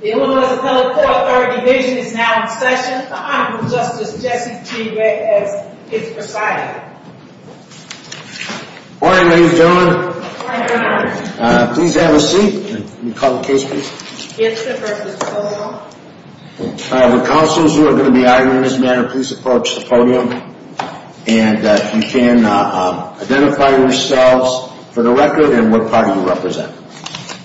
The Illinois Appellate Court Third Division is now in session. The Honorable Justice Jesse T. Reck has his presiding. Good morning ladies and gentlemen. Good morning Your Honor. Please have a seat. Can you call the case please? Gibson v. Kowal. The counselors who are going to be arguing in this matter please approach the podium and you can identify yourselves for the record and what party you represent.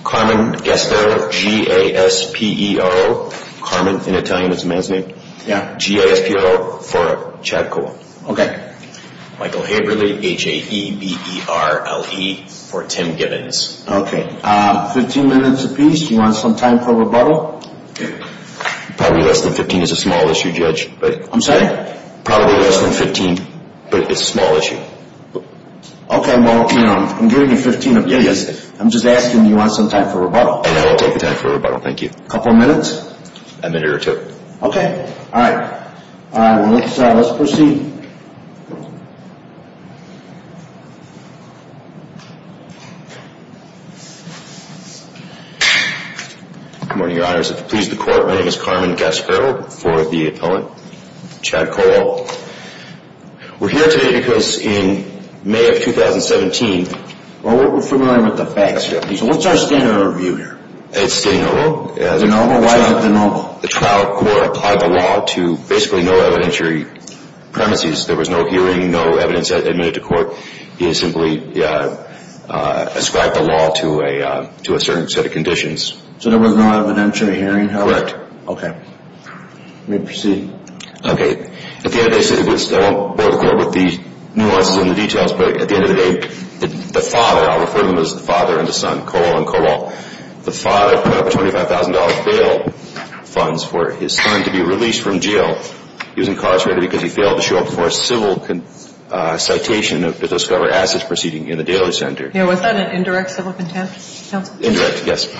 Carmen Gaspero. G-A-S-P-E-R-O. Carmen in Italian is a man's name. G-A-S-P-E-R-O for Chad Kowal. Michael Haberly. H-A-E-B-E-R-L-E for Tim Gibbons. Fifteen minutes apiece. Do you want some time for rebuttal? Probably less than fifteen is a small issue Judge. I'm sorry? Probably less than fifteen but it's a small issue. Okay well I'm giving you fifteen minutes apiece. I'm just asking do you want some time for rebuttal? I will take the time for rebuttal. Thank you. A couple of minutes? A minute or two. Okay. Alright. Let's proceed. Good morning Your Honor. Please the court. My name is Carmen Gaspero for the appellant Chad Kowal. We're here today because in May of 2017. Well we're familiar with the facts here. So what's our standard of review here? It's de novo. De novo? Why is it de novo? The trial court applied the law to basically no evidentiary premises. There was no hearing, no evidence admitted to court. It simply ascribed the law to a certain set of conditions. So there was no evidentiary hearing however? Correct. Okay. Let me proceed. Okay. At the end of the day, I won't bore the court with the nuances and the details but at the end of the day, the father, I'll refer to him as the father and the son, Kowal and Kowal, the father put up $25,000 bail funds for his son to be released from jail. He was incarcerated because he failed to show up for a civil citation to discover assets proceeding in the daily center. Yeah was that an indirect civil contempt? Indirect, yes.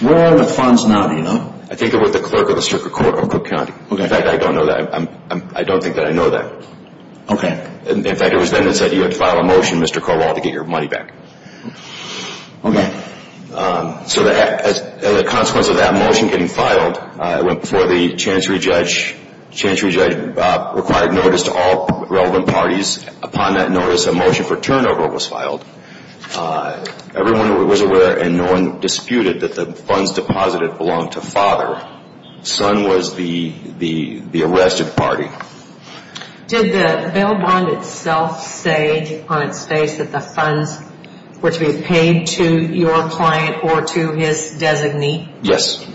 Where are the funds now do you know? I think they're with the clerk of the district court of Cook County. Okay. In fact, I don't know that. I don't think that I know that. Okay. In fact, it was then that it said you had to file a motion, Mr. Kowal, to get your money back. Okay. So as a consequence of that motion getting filed, it went before the chancery judge. The chancery judge required notice to all relevant parties. Upon that notice, a motion for turnover was filed. Everyone was aware and no one disputed that the funds deposited belonged to father. Son was the arrested party. Did the bail bond itself say on its face that the funds were to be paid to your client or to his designee? Yes.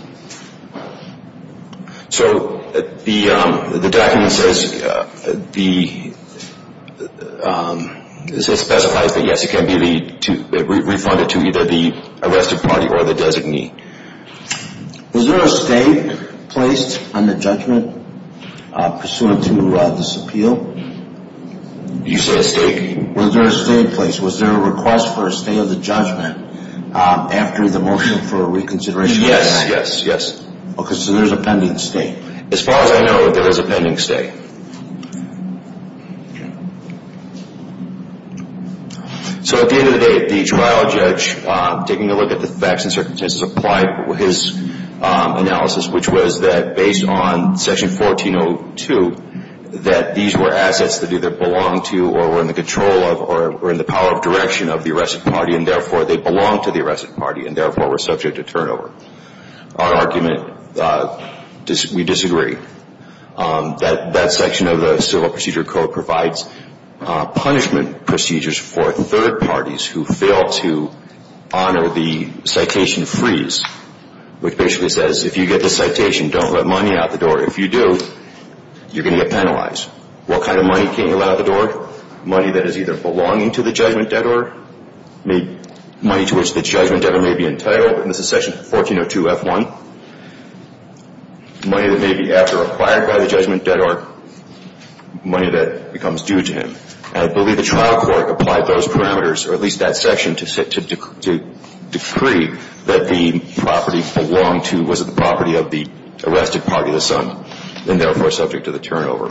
So the document says, specifies that yes, it can be refunded to either the arrested party or the designee. Was there a stay placed on the judgment pursuant to this appeal? You say a stay? Was there a stay in place? Was there a request for a stay of the judgment after the motion for reconsideration? Yes, yes, yes. Okay, so there's a pending stay. As far as I know, there is a pending stay. So at the end of the day, the trial judge, taking a look at the facts and circumstances applied his analysis, which was that based on Section 1402, that these were assets that either belonged to or were in the control of or were in the power of direction of the arrested party, and therefore they belonged to the arrested party, and therefore were subject to turnover. Our argument, we disagree. That section of the Civil Procedure Code provides punishment procedures for third parties who fail to honor the citation freeze, which basically says if you get the citation, don't let money out the door. If you do, you're going to get penalized. What kind of money can't you let out the door? Money that is either belonging to the judgment debtor, money to which the judgment debtor may be entitled, and this is Section 1402F1, money that may be after acquired by the judgment debtor, money that becomes due to him. I believe the trial court applied those parameters, or at least that section, to decree that the property belonged to, was it the property of the arrested party, the son, and therefore subject to the turnover.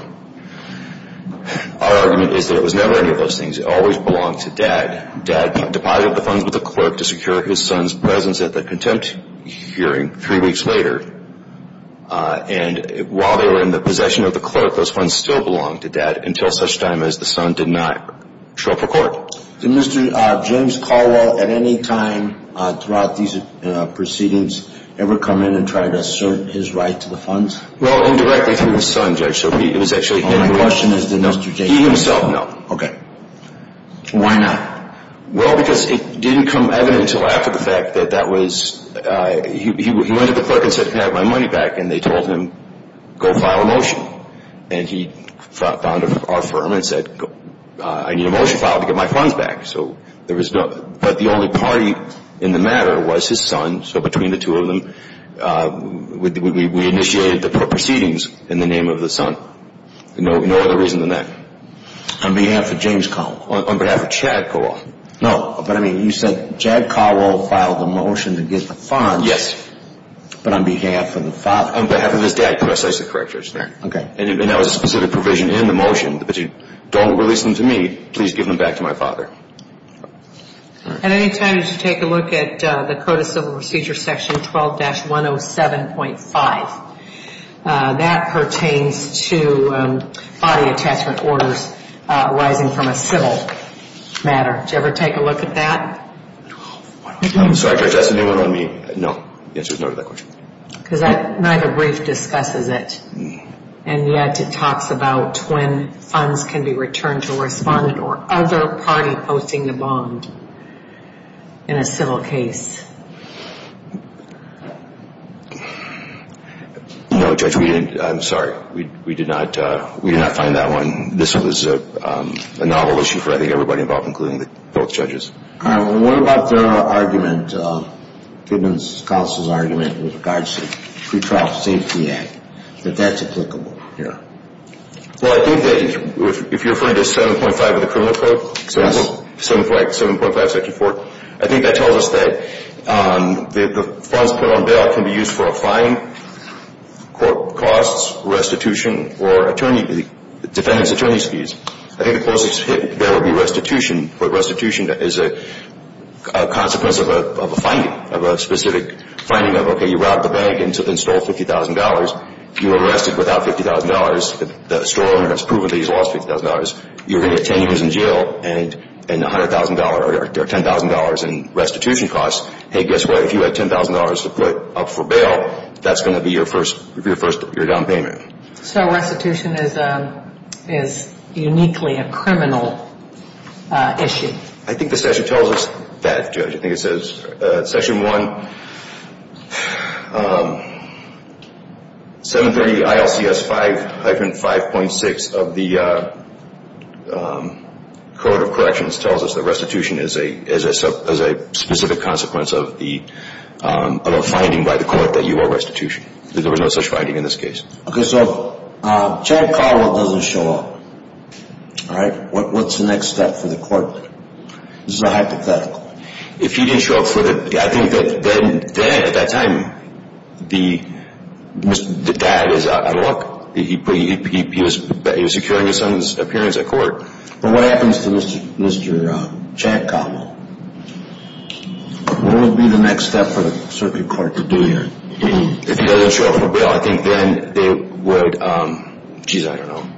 Our argument is that it was never any of those things. It always belonged to Dad. Dad deposited the funds with the clerk to secure his son's presence at the contempt hearing three weeks later, and while they were in the possession of the clerk, those funds still belonged to Dad, until such time as the son did not show up for court. Did Mr. James Caldwell at any time throughout these proceedings ever come in and try to assert his right to the funds? Well, indirectly through his son, Judge, so it was actually him. My question is, did Mr. James Caldwell? He himself, no. Okay. Why not? Well, because it didn't come evident until after the fact that that was, he went to the clerk and said, can I have my money back? And they told him, go file a motion. And he found our firm and said, I need a motion filed to get my funds back. So there was no, but the only party in the matter was his son, so between the two of them, we initiated the proceedings in the name of the son. No other reason than that. On behalf of James Caldwell. On behalf of Chad Caldwell. No, but I mean, you said Chad Caldwell filed the motion to get the funds. Yes. But on behalf of the father. On behalf of his dad. Could I say some corrections there? Okay. And there was a specific provision in the motion that you don't release them to me, please give them back to my father. At any time, did you take a look at the Code of Civil Procedure section 12-107.5? That pertains to body attachment orders arising from a civil matter. Did you ever take a look at that? I'm sorry, Judge, that's a new one on me. No. The answer is no to that question. Because neither brief discusses it. And yet it talks about when funds can be returned to a respondent or other party posting the bond in a civil case. No, Judge, we didn't. I'm sorry. We did not find that one. This was a novel issue for, I think, everybody involved, including both judges. What about the argument, Goodman's counsel's argument with regards to the Pre-Trial Safety Act, that that's applicable here? Well, I think that if you're referring to 7.5 of the Criminal Code, 7.5 section 4, I think that tells us that the funds put on bail can be used for a fine, court costs, restitution, or defendant's attorney's fees. I think the closest hit there would be restitution, but restitution is a consequence of a finding, of a specific finding of, okay, you robbed the bank and then stole $50,000. You were arrested without $50,000. The store owner has proven that he's lost $50,000. You're going to get 10 years in jail and $100,000 or $10,000 in restitution costs. Hey, guess what? If you had $10,000 to put up for bail, that's going to be your first down payment. So restitution is uniquely a criminal issue. I think the section tells us that, Judge. I think it says section 1, 730 ILCS 5-5.6 of the Code of Corrections tells us that restitution is a specific consequence of a finding by the court that you owe restitution. There was no such finding in this case. Okay. So Chad Collar doesn't show up. All right. What's the next step for the court? This is a hypothetical. If he didn't show up for the, I think that then, at that time, the dad is out of luck. He was securing his son's appearance at court. But what happens to Mr. Chad Collar? What would be the next step for the circuit court to do here? If he doesn't show up for bail, I think then they would, jeez, I don't know.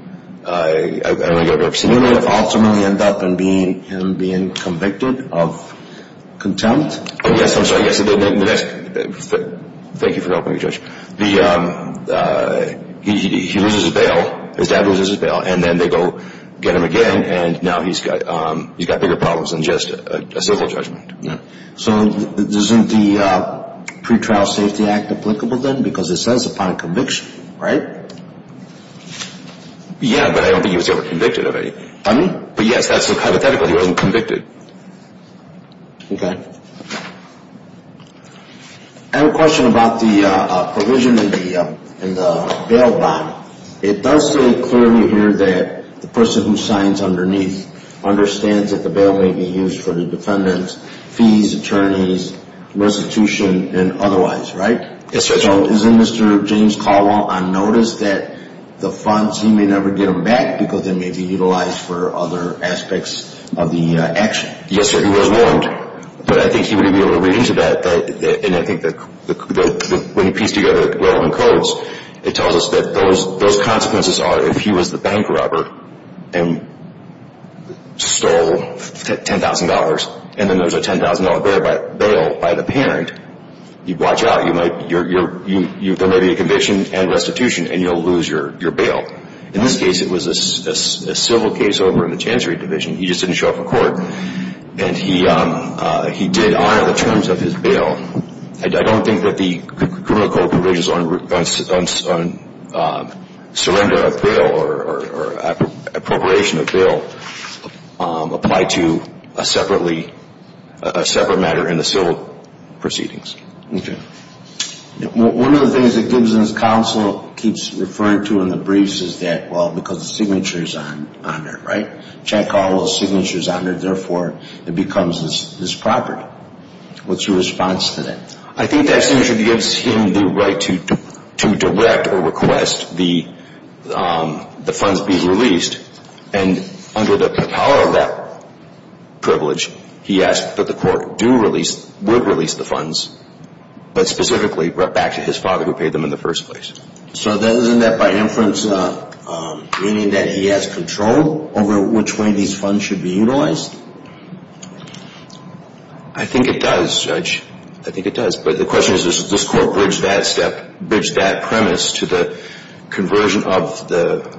He would ultimately end up being convicted of contempt? Oh, yes. I'm sorry. Thank you for helping me, Judge. He loses his bail. His dad loses his bail. And then they go get him again. And now he's got bigger problems than just a civil judgment. So isn't the Pretrial Safety Act applicable then? Because it says upon conviction, right? Yeah, but I don't think he was ever convicted of anything. Pardon me? But, yes, that's a hypothetical. He wasn't convicted. Okay. I have a question about the provision in the bail bond. It does say clearly here that the person who signs underneath understands that the bail may be used for the defendant's fees, attorneys, restitution, and otherwise, right? Yes, Judge. So isn't Mr. James Caldwell on notice that the funds, he may never get them back because they may be utilized for other aspects of the action? Yes, sir. He was warned. But I think he would be able to read into that. And I think when you piece together the relevant codes, it tells us that those consequences are, if he was the bank robber and stole $10,000, and then there was a $10,000 bail by the parent, you'd watch out. There may be a conviction and restitution, and you'll lose your bail. In this case, it was a civil case over in the Chancery Division. He just didn't show up in court. And he did honor the terms of his bail. I don't think that the criminal code provisions on surrender of bail or appropriation of bail apply to a separate matter in the civil proceedings. Okay. One of the things that Gibson's counsel keeps referring to in the briefs is that, well, because the signature's on there, right? Chad Caldwell's signature's on there, therefore, it becomes his property. What's your response to that? I think that signature gives him the right to direct or request the funds be released. And under the power of that privilege, he asks that the court do release, would release the funds, but specifically back to his father who paid them in the first place. So isn't that by inference meaning that he has control over which way these funds should be utilized? I think it does, Judge. I think it does. But the question is, does this court bridge that premise to the conversion of the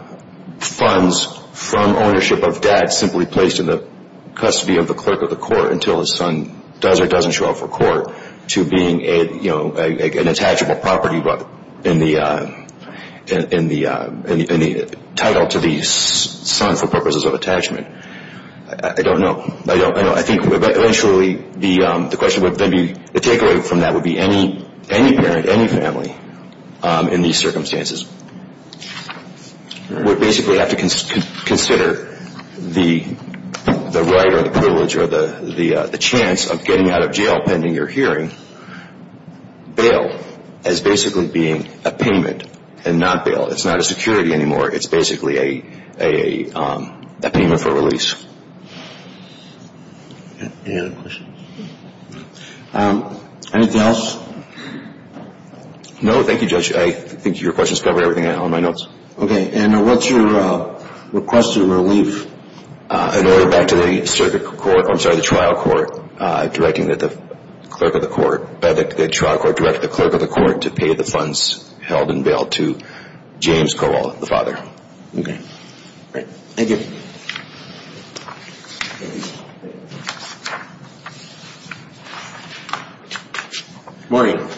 funds from ownership of dad simply placed in the custody of the clerk of the court until his son does or doesn't show up for court to being an attachable property in the title to the son for purposes of attachment? I don't know. I think eventually the question would then be, the takeaway from that would be any parent, any family in these circumstances would basically have to consider the right or the privilege or the chance of getting out of jail pending your hearing. Bail as basically being a payment and not bail. It's not a security anymore. It's basically a payment for release. Any other questions? Anything else? No. Thank you, Judge. I think your questions covered everything on my notes. Okay. And what's your request of relief? An order back to the circuit court, I'm sorry, the trial court directing that the clerk of the court, to pay the funds held and bailed to James Kowal, the father. Okay. Great. Thank you. Good morning.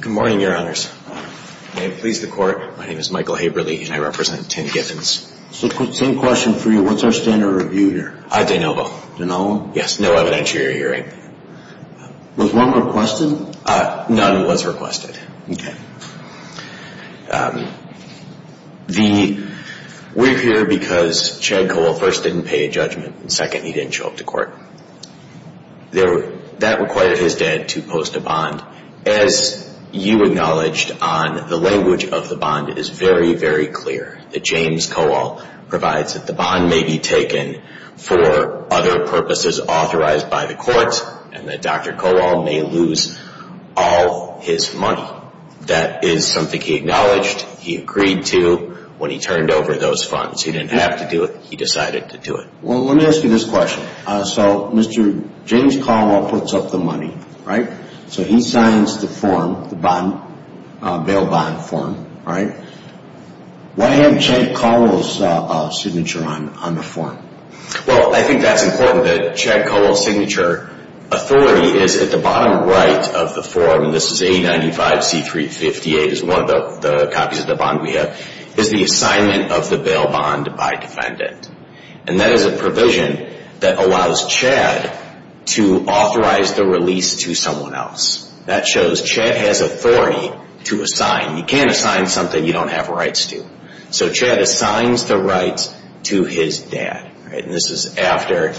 Good morning, Your Honors. May it please the court, my name is Michael Haberly and I represent Tim Giffens. Same question for you. What's our standard of review here? De novo. De novo? Yes, no evidentiary hearing. Was one requested? None was requested. We're here because Chad Kowal first didn't pay a judgment and second, he didn't show up to court. That required his dad to post a bond. As you acknowledged, the language of the bond is very, very clear, that James Kowal provides that the bond may be taken for other purposes authorized by the court and that Dr. Kowal may lose all his money. That is something he acknowledged, he agreed to when he turned over those funds. He didn't have to do it, he decided to do it. Well, let me ask you this question. So Mr. James Kowal puts up the money, right? So he signs the form, the bail bond form, right? Why have Chad Kowal's signature on the form? Well, I think that's important that Chad Kowal's signature authority is at the bottom right of the form, and this is A95C358 is one of the copies of the bond we have, is the assignment of the bail bond by defendant. And that is a provision that allows Chad to authorize the release to someone else. That shows Chad has authority to assign. You can't assign something you don't have rights to. So Chad assigns the rights to his dad, right? And this is after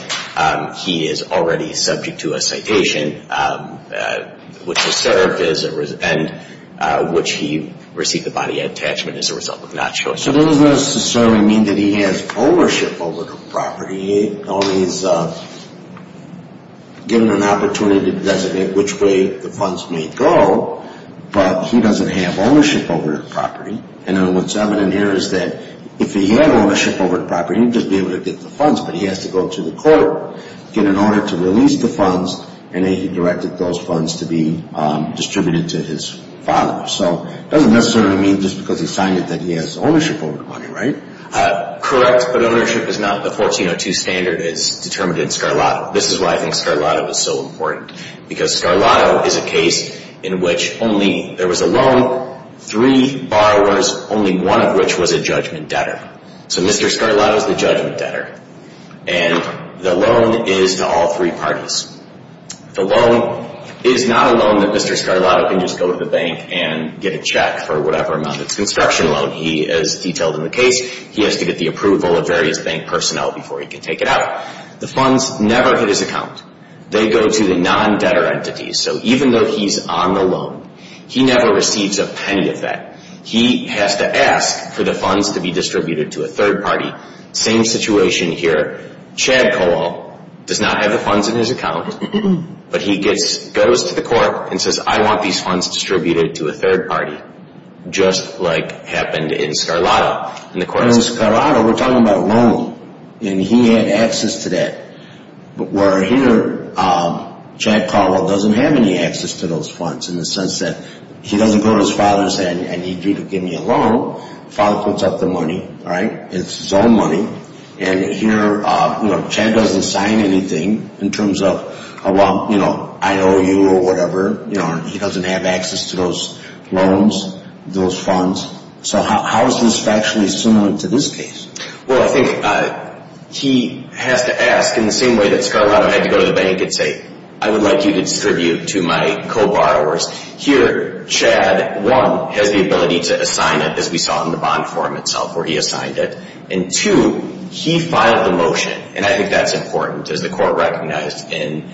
he is already subject to a citation, which is served, and which he received the body of attachment as a result of not showing up. So that doesn't necessarily mean that he has ownership over the property. He's only given an opportunity to designate which way the funds may go, but he doesn't have ownership over the property. And what's evident here is that if he had ownership over the property, he'd just be able to get the funds, but he has to go to the court in order to release the funds, and he directed those funds to be distributed to his father. So it doesn't necessarily mean just because he signed it that he has ownership over the money, right? Correct, but ownership is not the 1402 standard as determined in Scarlato. This is why I think Scarlato is so important, because Scarlato is a case in which only there was a loan, three borrowers, only one of which was a judgment debtor. So Mr. Scarlato is the judgment debtor, and the loan is to all three parties. The loan is not a loan that Mr. Scarlato can just go to the bank and get a check for whatever amount. It's a construction loan. He is detailed in the case. He has to get the approval of various bank personnel before he can take it out. The funds never hit his account. They go to the non-debtor entities. So even though he's on the loan, he never receives a penny of that. He has to ask for the funds to be distributed to a third party. Same situation here. Chad Kowal does not have the funds in his account, but he goes to the court and says, I want these funds distributed to a third party, just like happened in Scarlato. In Scarlato, we're talking about a loan, and he had access to that. But where here, Chad Kowal doesn't have any access to those funds in the sense that he doesn't go to his father and say, I need you to give me a loan. Father puts up the money, right? It's his own money. And here, Chad doesn't sign anything in terms of, well, I owe you or whatever. He doesn't have access to those loans, those funds. So how is this factually similar to this case? Well, I think he has to ask in the same way that Scarlato had to go to the bank and say, I would like you to distribute to my co-borrowers. Here, Chad, one, has the ability to assign it, as we saw in the bond form itself, where he assigned it. And two, he filed the motion, and I think that's important, as the court recognized in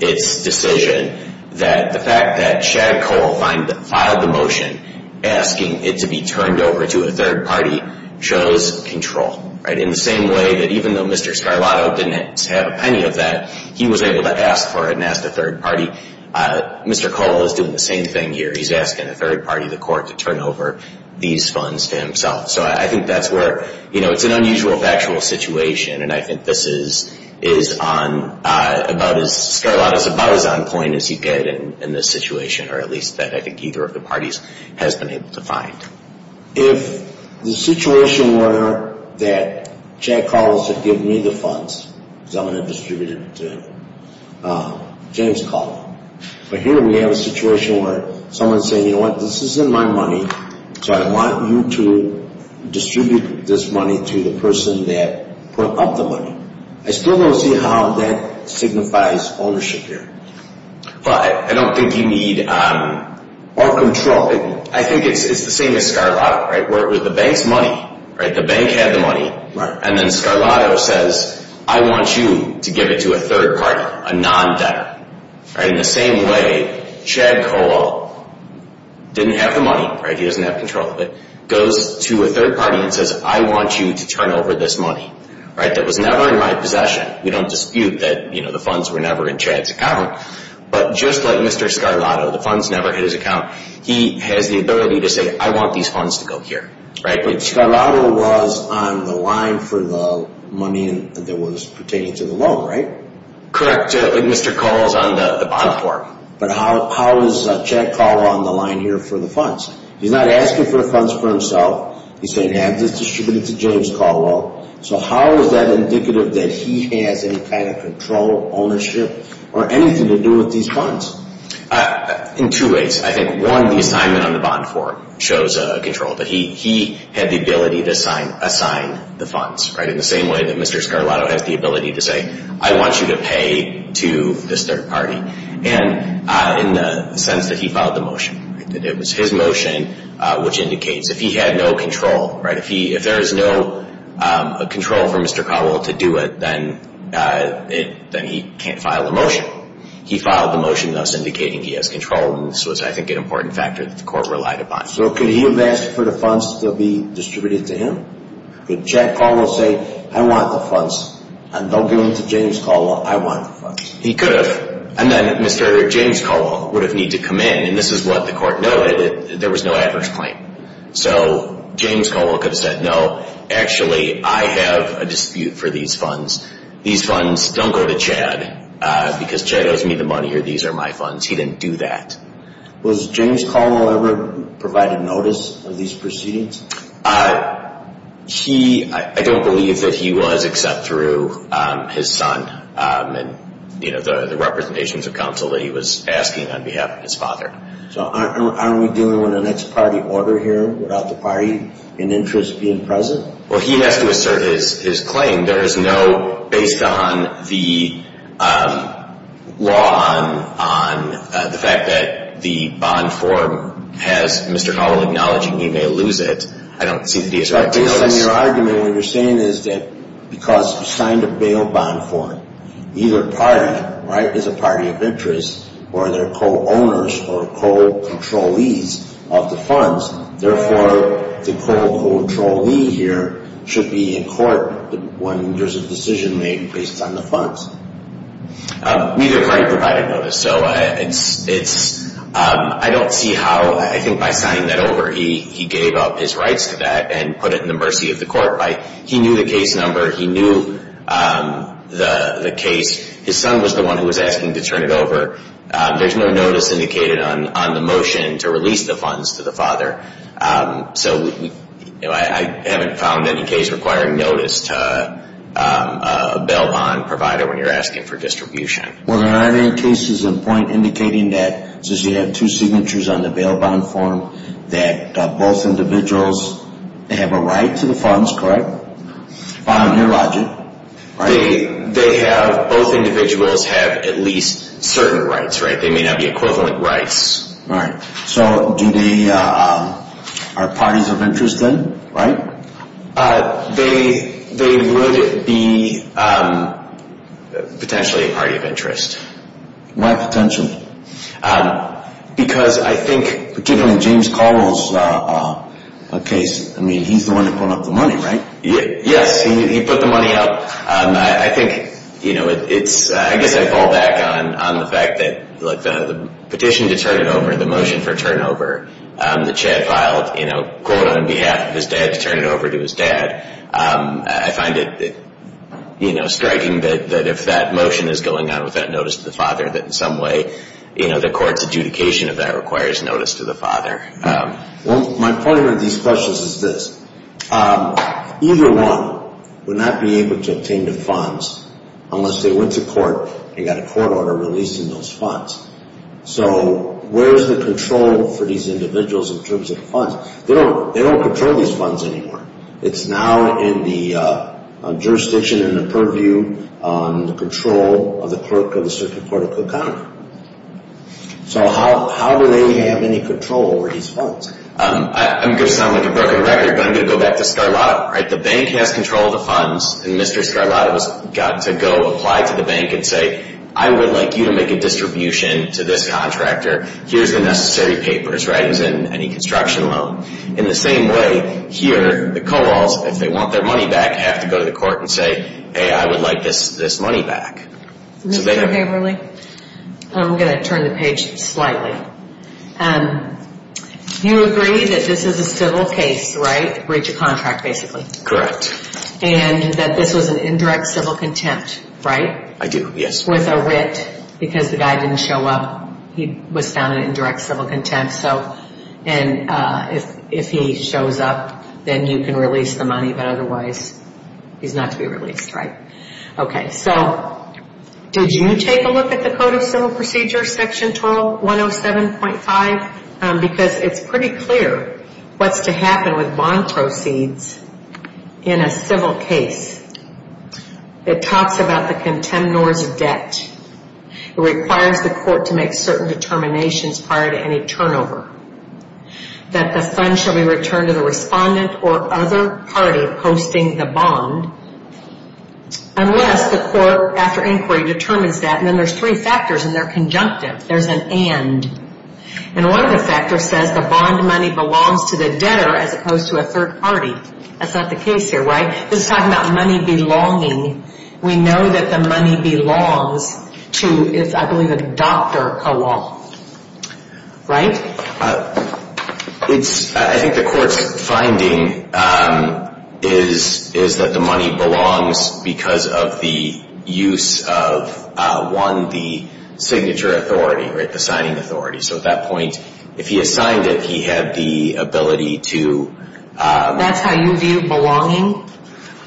its decision, that the fact that Chad Kowal filed the motion asking it to be turned over to a third party shows control. In the same way that even though Mr. Scarlato didn't have a penny of that, he was able to ask for it and ask a third party, Mr. Kowal is doing the same thing here. He's asking a third party, the court, to turn over these funds to himself. So I think that's where it's an unusual factual situation, and I think this is about as Scarlato's about-as-on point as he could in this situation, or at least that I think either of the parties has been able to find. If the situation were that Chad Kowal should give me the funds, because I'm going to distribute it to James Kowal, but here we have a situation where someone is saying, you know what, this isn't my money, so I want you to distribute this money to the person that put up the money. I still don't see how that signifies ownership here. But I don't think you need more control. I think it's the same as Scarlato, where the bank's money, the bank had the money, and then Scarlato says, I want you to give it to a third party, a non-debtor. In the same way, Chad Kowal didn't have the money, he doesn't have control of it, goes to a third party and says, I want you to turn over this money that was never in my possession. We don't dispute that the funds were never in Chad's account, but just like Mr. Scarlato, the funds never hit his account. He has the ability to say, I want these funds to go here. But Scarlato was on the line for the money that was pertaining to the loan, right? Correct. Mr. Kowal is on the bond form. But how is Chad Kowal on the line here for the funds? He's not asking for the funds for himself. He's saying, have this distributed to James Kowal. So how is that indicative that he has any kind of control, ownership, or anything to do with these funds? In two ways. I think, one, the assignment on the bond form shows control. But he had the ability to assign the funds, right, in the same way that Mr. Scarlato has the ability to say, I want you to pay to this third party. And in the sense that he filed the motion. It was his motion which indicates if he had no control, right, if there is no control for Mr. Kowal to do it, then he can't file a motion. He filed the motion thus indicating he has control, and this was, I think, an important factor that the court relied upon. So could he have asked for the funds to be distributed to him? Could Chad Kowal say, I want the funds, and don't give them to James Kowal. I want the funds. He could have. And then Mr. James Kowal would have needed to come in, and this is what the court noted, that there was no adverse claim. So James Kowal could have said, no, actually, I have a dispute for these funds. These funds don't go to Chad because Chad owes me the money or these are my funds. He didn't do that. Was James Kowal ever provided notice of these proceedings? He, I don't believe that he was except through his son and the representations of counsel that he was asking on behalf of his father. So aren't we dealing with an ex-party order here without the party in interest being present? Well, he has to assert his claim. There is no, based on the law on the fact that the bond form has Mr. Kowal acknowledging he may lose it, I don't see that he expected notice. Based on your argument, what you're saying is that because he signed a bail bond form, either party is a party of interest or they're co-owners or co-controllees of the funds. Therefore, the co-controllee here should be in court when there's a decision made based on the funds. Neither party provided notice. So it's, I don't see how, I think by signing that over, he gave up his rights to that and put it in the mercy of the court. He knew the case number. He knew the case. His son was the one who was asking to turn it over. There's no notice indicated on the motion to release the funds to the father. So I haven't found any case requiring notice to a bail bond provider when you're asking for distribution. Well, there aren't any cases in point indicating that, since you have two signatures on the bail bond form, that both individuals have a right to the funds, correct? By your logic, right? They have, both individuals have at least certain rights, right? They may not be equivalent rights. Right. So do they, are parties of interest then, right? They would be potentially a party of interest. Why potentially? Because I think, particularly James Carl's case, I mean, he's the one who put up the money, right? Yes, he put the money up. I think, you know, it's, I guess I fall back on the fact that, look, the petition to turn it over, the motion for turnover that Chad filed, you know, quote on behalf of his dad to turn it over to his dad, I find it, you know, striking that if that motion is going on with that notice to the father, that in some way, you know, the court's adjudication of that requires notice to the father. Well, my point about these questions is this. Either one would not be able to obtain the funds unless they went to court and got a court order releasing those funds. So where is the control for these individuals in terms of funds? They don't control these funds anymore. It's now in the jurisdiction and the purview, the control of the clerk of the Circuit Court of Cook County. So how do they have any control over these funds? I'm going to sound like a broken record, but I'm going to go back to Scarlato, right? The bank has control of the funds, and Mr. Scarlato's got to go apply to the bank and say, I would like you to make a distribution to this contractor. Here's the necessary papers, right? He's in any construction loan. In the same way, here, the co-auls, if they want their money back, have to go to the court and say, hey, I would like this money back. Mr. Haverly, I'm going to turn the page slightly. You agree that this is a civil case, right? Breach of contract, basically. Correct. And that this was an indirect civil contempt, right? I do, yes. With a writ because the guy didn't show up. He was found in indirect civil contempt. And if he shows up, then you can release the money. But otherwise, he's not to be released, right? Okay, so did you take a look at the Code of Civil Procedures, Section 107.5? Because it's pretty clear what's to happen with bond proceeds in a civil case. It talks about the contemnor's debt. It requires the court to make certain determinations prior to any turnover. That the fund shall be returned to the respondent or other party posting the bond unless the court, after inquiry, determines that. And then there's three factors, and they're conjunctive. There's an and. And one of the factors says the bond money belongs to the debtor as opposed to a third party. That's not the case here, right? This is talking about money belonging. We know that the money belongs to, I believe, a doctor co-op, right? I think the court's finding is that the money belongs because of the use of, one, the signature authority, right, the signing authority. So at that point, if he assigned it, he had the ability to. That's how you view belonging?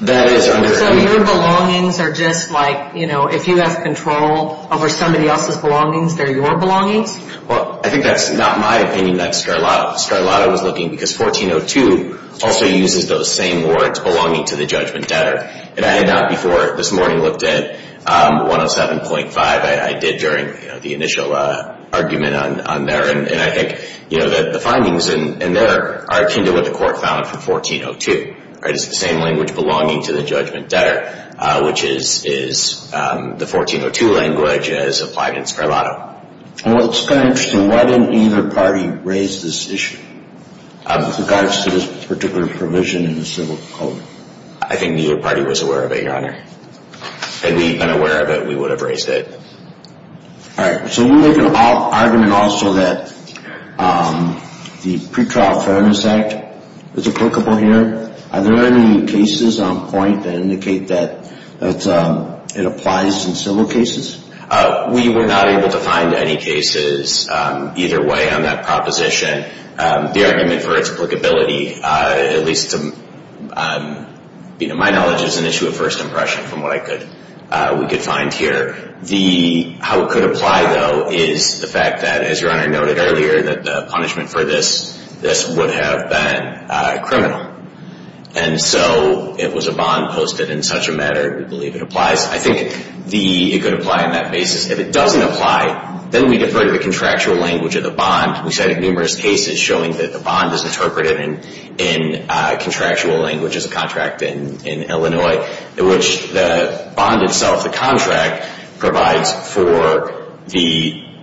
That is under. So your belongings are just like, you know, if you have control over somebody else's belongings, they're your belongings? Well, I think that's not my opinion. That's Scarlato's. Scarlato's was looking because 1402 also uses those same words, belonging to the judgment debtor. And I had not before this morning looked at 107.5. I did during the initial argument on there. And I think, you know, that the findings in there are akin to what the court found for 1402. It's the same language belonging to the judgment debtor, which is the 1402 language as applied in Scarlato. Well, it's kind of interesting. Why didn't either party raise this issue with regards to this particular provision in the civil code? I think neither party was aware of it, Your Honor. Had we been aware of it, we would have raised it. All right. So we make an argument also that the Pretrial Fairness Act is applicable here. Are there any cases on point that indicate that it applies in civil cases? We were not able to find any cases either way on that proposition. The argument for its applicability, at least to my knowledge, is an issue of first impression from what we could find here. How it could apply, though, is the fact that, as Your Honor noted earlier, that the punishment for this would have been criminal. And so it was a bond posted in such a manner that we believe it applies. I think it could apply on that basis. If it doesn't apply, then we defer to the contractual language of the bond. We cited numerous cases showing that the bond is interpreted in contractual language, as a contract in Illinois, in which the bond itself, the contract, provides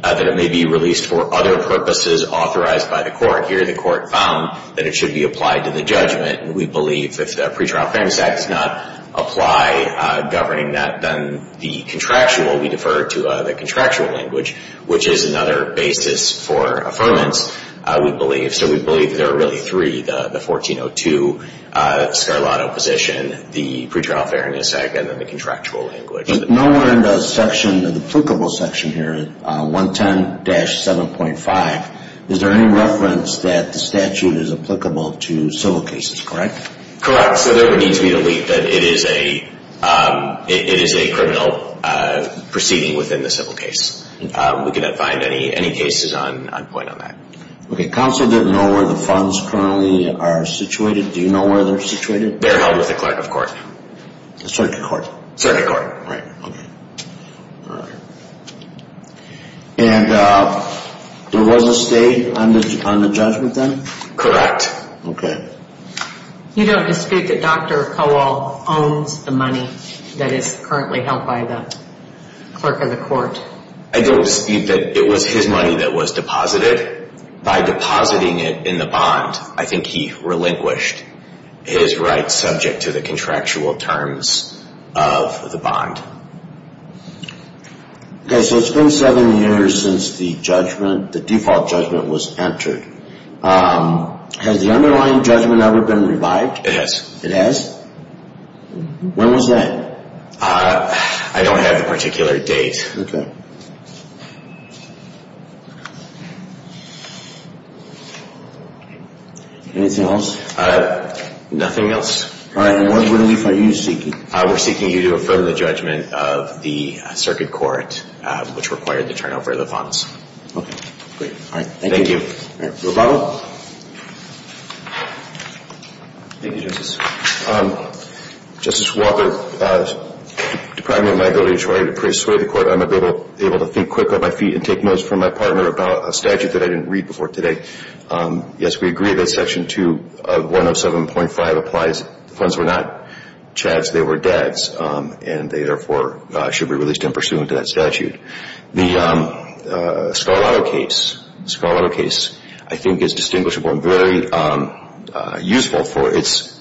that it may be released for other purposes authorized by the court. Here the court found that it should be applied to the judgment, and we believe if the Pretrial Fairness Act does not apply governing that, then the contractual, we defer to the contractual language, which is another basis for affirmance, we believe. So we believe there are really three, the 1402 Scarlato position, the Pretrial Fairness Act, and then the contractual language. Nowhere in the section, the applicable section here, 110-7.5, is there any reference that the statute is applicable to civil cases, correct? Correct. So there would need to be a leak that it is a criminal proceeding within the civil case. We could not find any cases on point on that. Okay, counsel didn't know where the funds currently are situated. Do you know where they're situated? They're held with the clerk of court. The circuit court. Circuit court. Right, okay. And there was a state on the judgment then? Correct. Okay. You don't dispute that Dr. Kowal owns the money that is currently held by the clerk of the court? I don't dispute that it was his money that was deposited. By depositing it in the bond, I think he relinquished his rights subject to the contractual terms of the bond. Okay, so it's been seven years since the judgment, the default judgment, was entered. Has the underlying judgment ever been revived? It has. It has? When was that? I don't have a particular date. Okay. Anything else? Nothing else. All right, and what relief are you seeking? We're seeking you to affirm the judgment of the circuit court, which required the turnover of the funds. Okay, great. All right, thank you. All right, Roboto. Thank you, Justice. Justice Walker, deprived of my ability to persuade the court, I'm able to think quickly on my feet and take notes from my partner about a statute that I didn't read before today. Yes, we agree that Section 2 of 107.5 applies. The funds were not Chad's, they were Dad's, and they, therefore, should be released in pursuant to that statute. The Scarlato case, I think, is distinguishable and very useful for its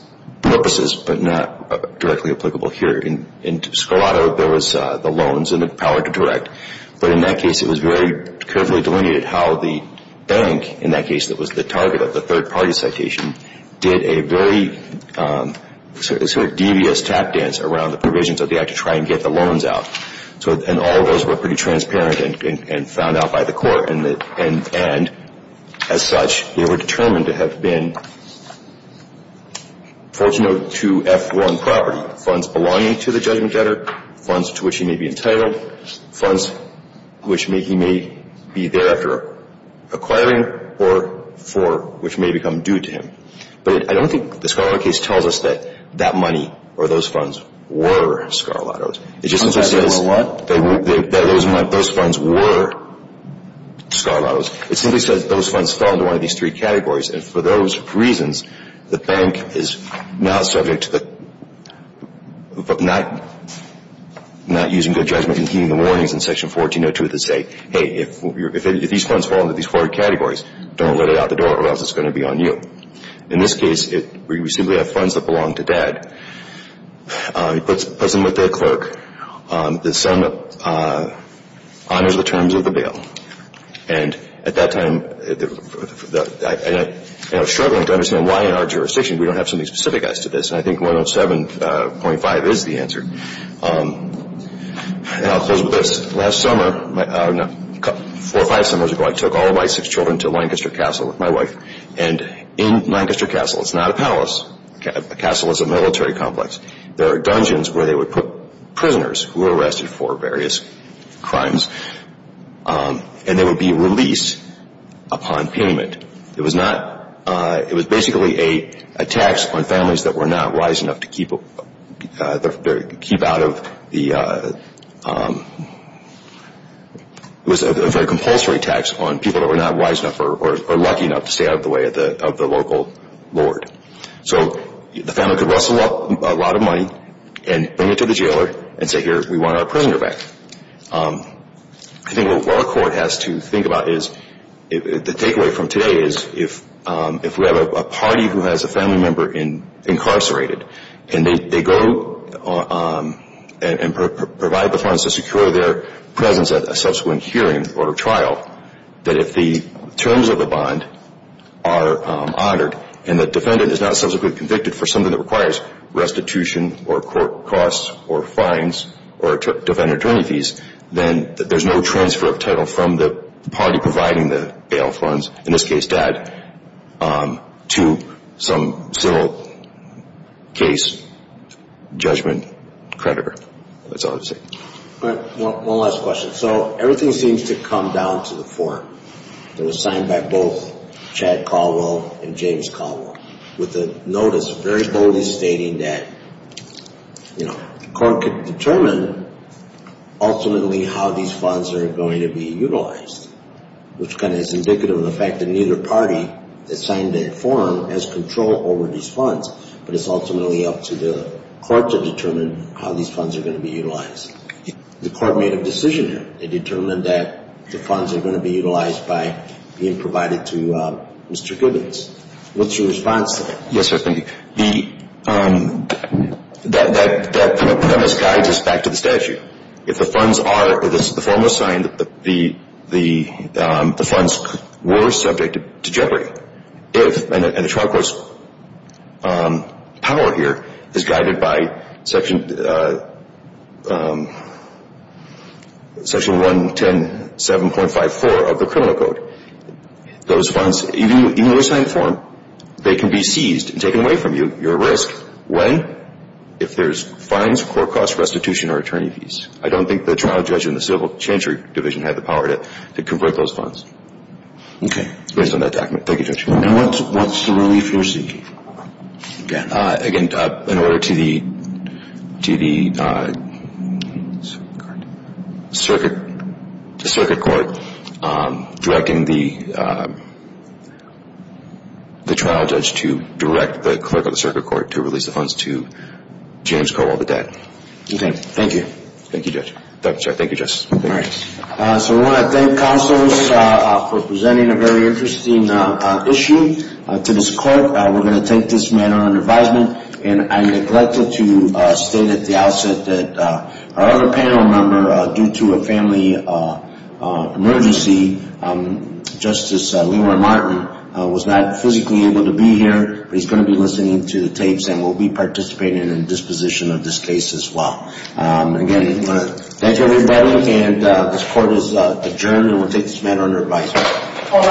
purposes but not directly applicable here. In Scarlato, there was the loans and the power to direct, but in that case it was very carefully delineated how the bank, in that case, that was the target of the third-party citation, did a very sort of devious tap dance around the provisions of the act to try and get the loans out. And all of those were pretty transparent and found out by the court. And as such, they were determined to have been Fortuno 2F1 property, funds belonging to the judgment debtor, funds to which he may be entitled, funds which he may be there after acquiring or for which may become due to him. But I don't think the Scarlato case tells us that that money or those funds were Scarlato's. It just simply says those funds were Scarlato's. It simply says those funds fall into one of these three categories. And for those reasons, the bank is now subject to not using good judgment and heeding the warnings in Section 1402 that say, hey, if these funds fall into these four categories, don't let it out the door or else it's going to be on you. In this case, we simply have funds that belong to Dad. He puts them with the clerk. The son honors the terms of the bill. And at that time, I was struggling to understand why in our jurisdiction we don't have something specific as to this. And I think 107.5 is the answer. And I'll close with this. Last summer, four or five summers ago, I took all of my six children to Lancaster Castle with my wife. And in Lancaster Castle, it's not a palace. A castle is a military complex. There are dungeons where they would put prisoners who were arrested for various crimes and they would be released upon payment. It was basically a tax on families that were not wise enough to keep out of the – it was a very compulsory tax on people that were not wise enough or lucky enough to stay out of the way of the local lord. So the family could rustle up a lot of money and bring it to the jailer and say, here, we want our prisoner back. I think what our court has to think about is – the takeaway from today is if we have a party who has a family member incarcerated and they go and provide the funds to secure their presence at a subsequent hearing or trial, that if the terms of the bond are honored and the defendant is not subsequently convicted for something that requires restitution or court costs or fines or defendant attorney fees, then there's no transfer of title from the party providing the bail funds, in this case, dad, to some civil case judgment creditor. That's all I have to say. All right. One last question. So everything seems to come down to the form that was signed by both Chad Caldwell and James Caldwell with a notice very boldly stating that the court could determine ultimately how these funds are going to be utilized, which kind of is indicative of the fact that neither party that signed that form has control over these funds, but it's ultimately up to the court to determine how these funds are going to be utilized. The court made a decision here. They determined that the funds are going to be utilized by being provided to Mr. Gibbons. What's your response to that? Yes, sir. That premise guides us back to the statute. If the funds are, if the form was signed, the funds were subject to jeopardy, if, and the trial court's power here is guided by section 110.7.54 of the criminal code, those funds, even when you sign the form, they can be seized and taken away from you. You're at risk when? If there's fines, court costs, restitution, or attorney fees. I don't think the trial judge in the civil chancery division had the power to convert those funds. Okay. Based on that document. Thank you, Judge. And what's the relief you're seeking? Again, in order to the circuit court directing the trial judge to direct the clerk of the circuit court to release the funds to James Cobol, the dad. Okay. Thank you. Thank you, Judge. I'm sorry. Thank you, Justice. All right. So I want to thank counsels for presenting a very interesting issue to this court. We're going to take this matter under advisement. And I neglected to state at the outset that our other panel member, due to a family emergency, Justice Leroy Martin was not physically able to be here, but he's going to be listening to the tapes and will be participating in the disposition of this case as well. And again, I want to thank everybody. And this court is adjourned. And we'll take this matter under advisement.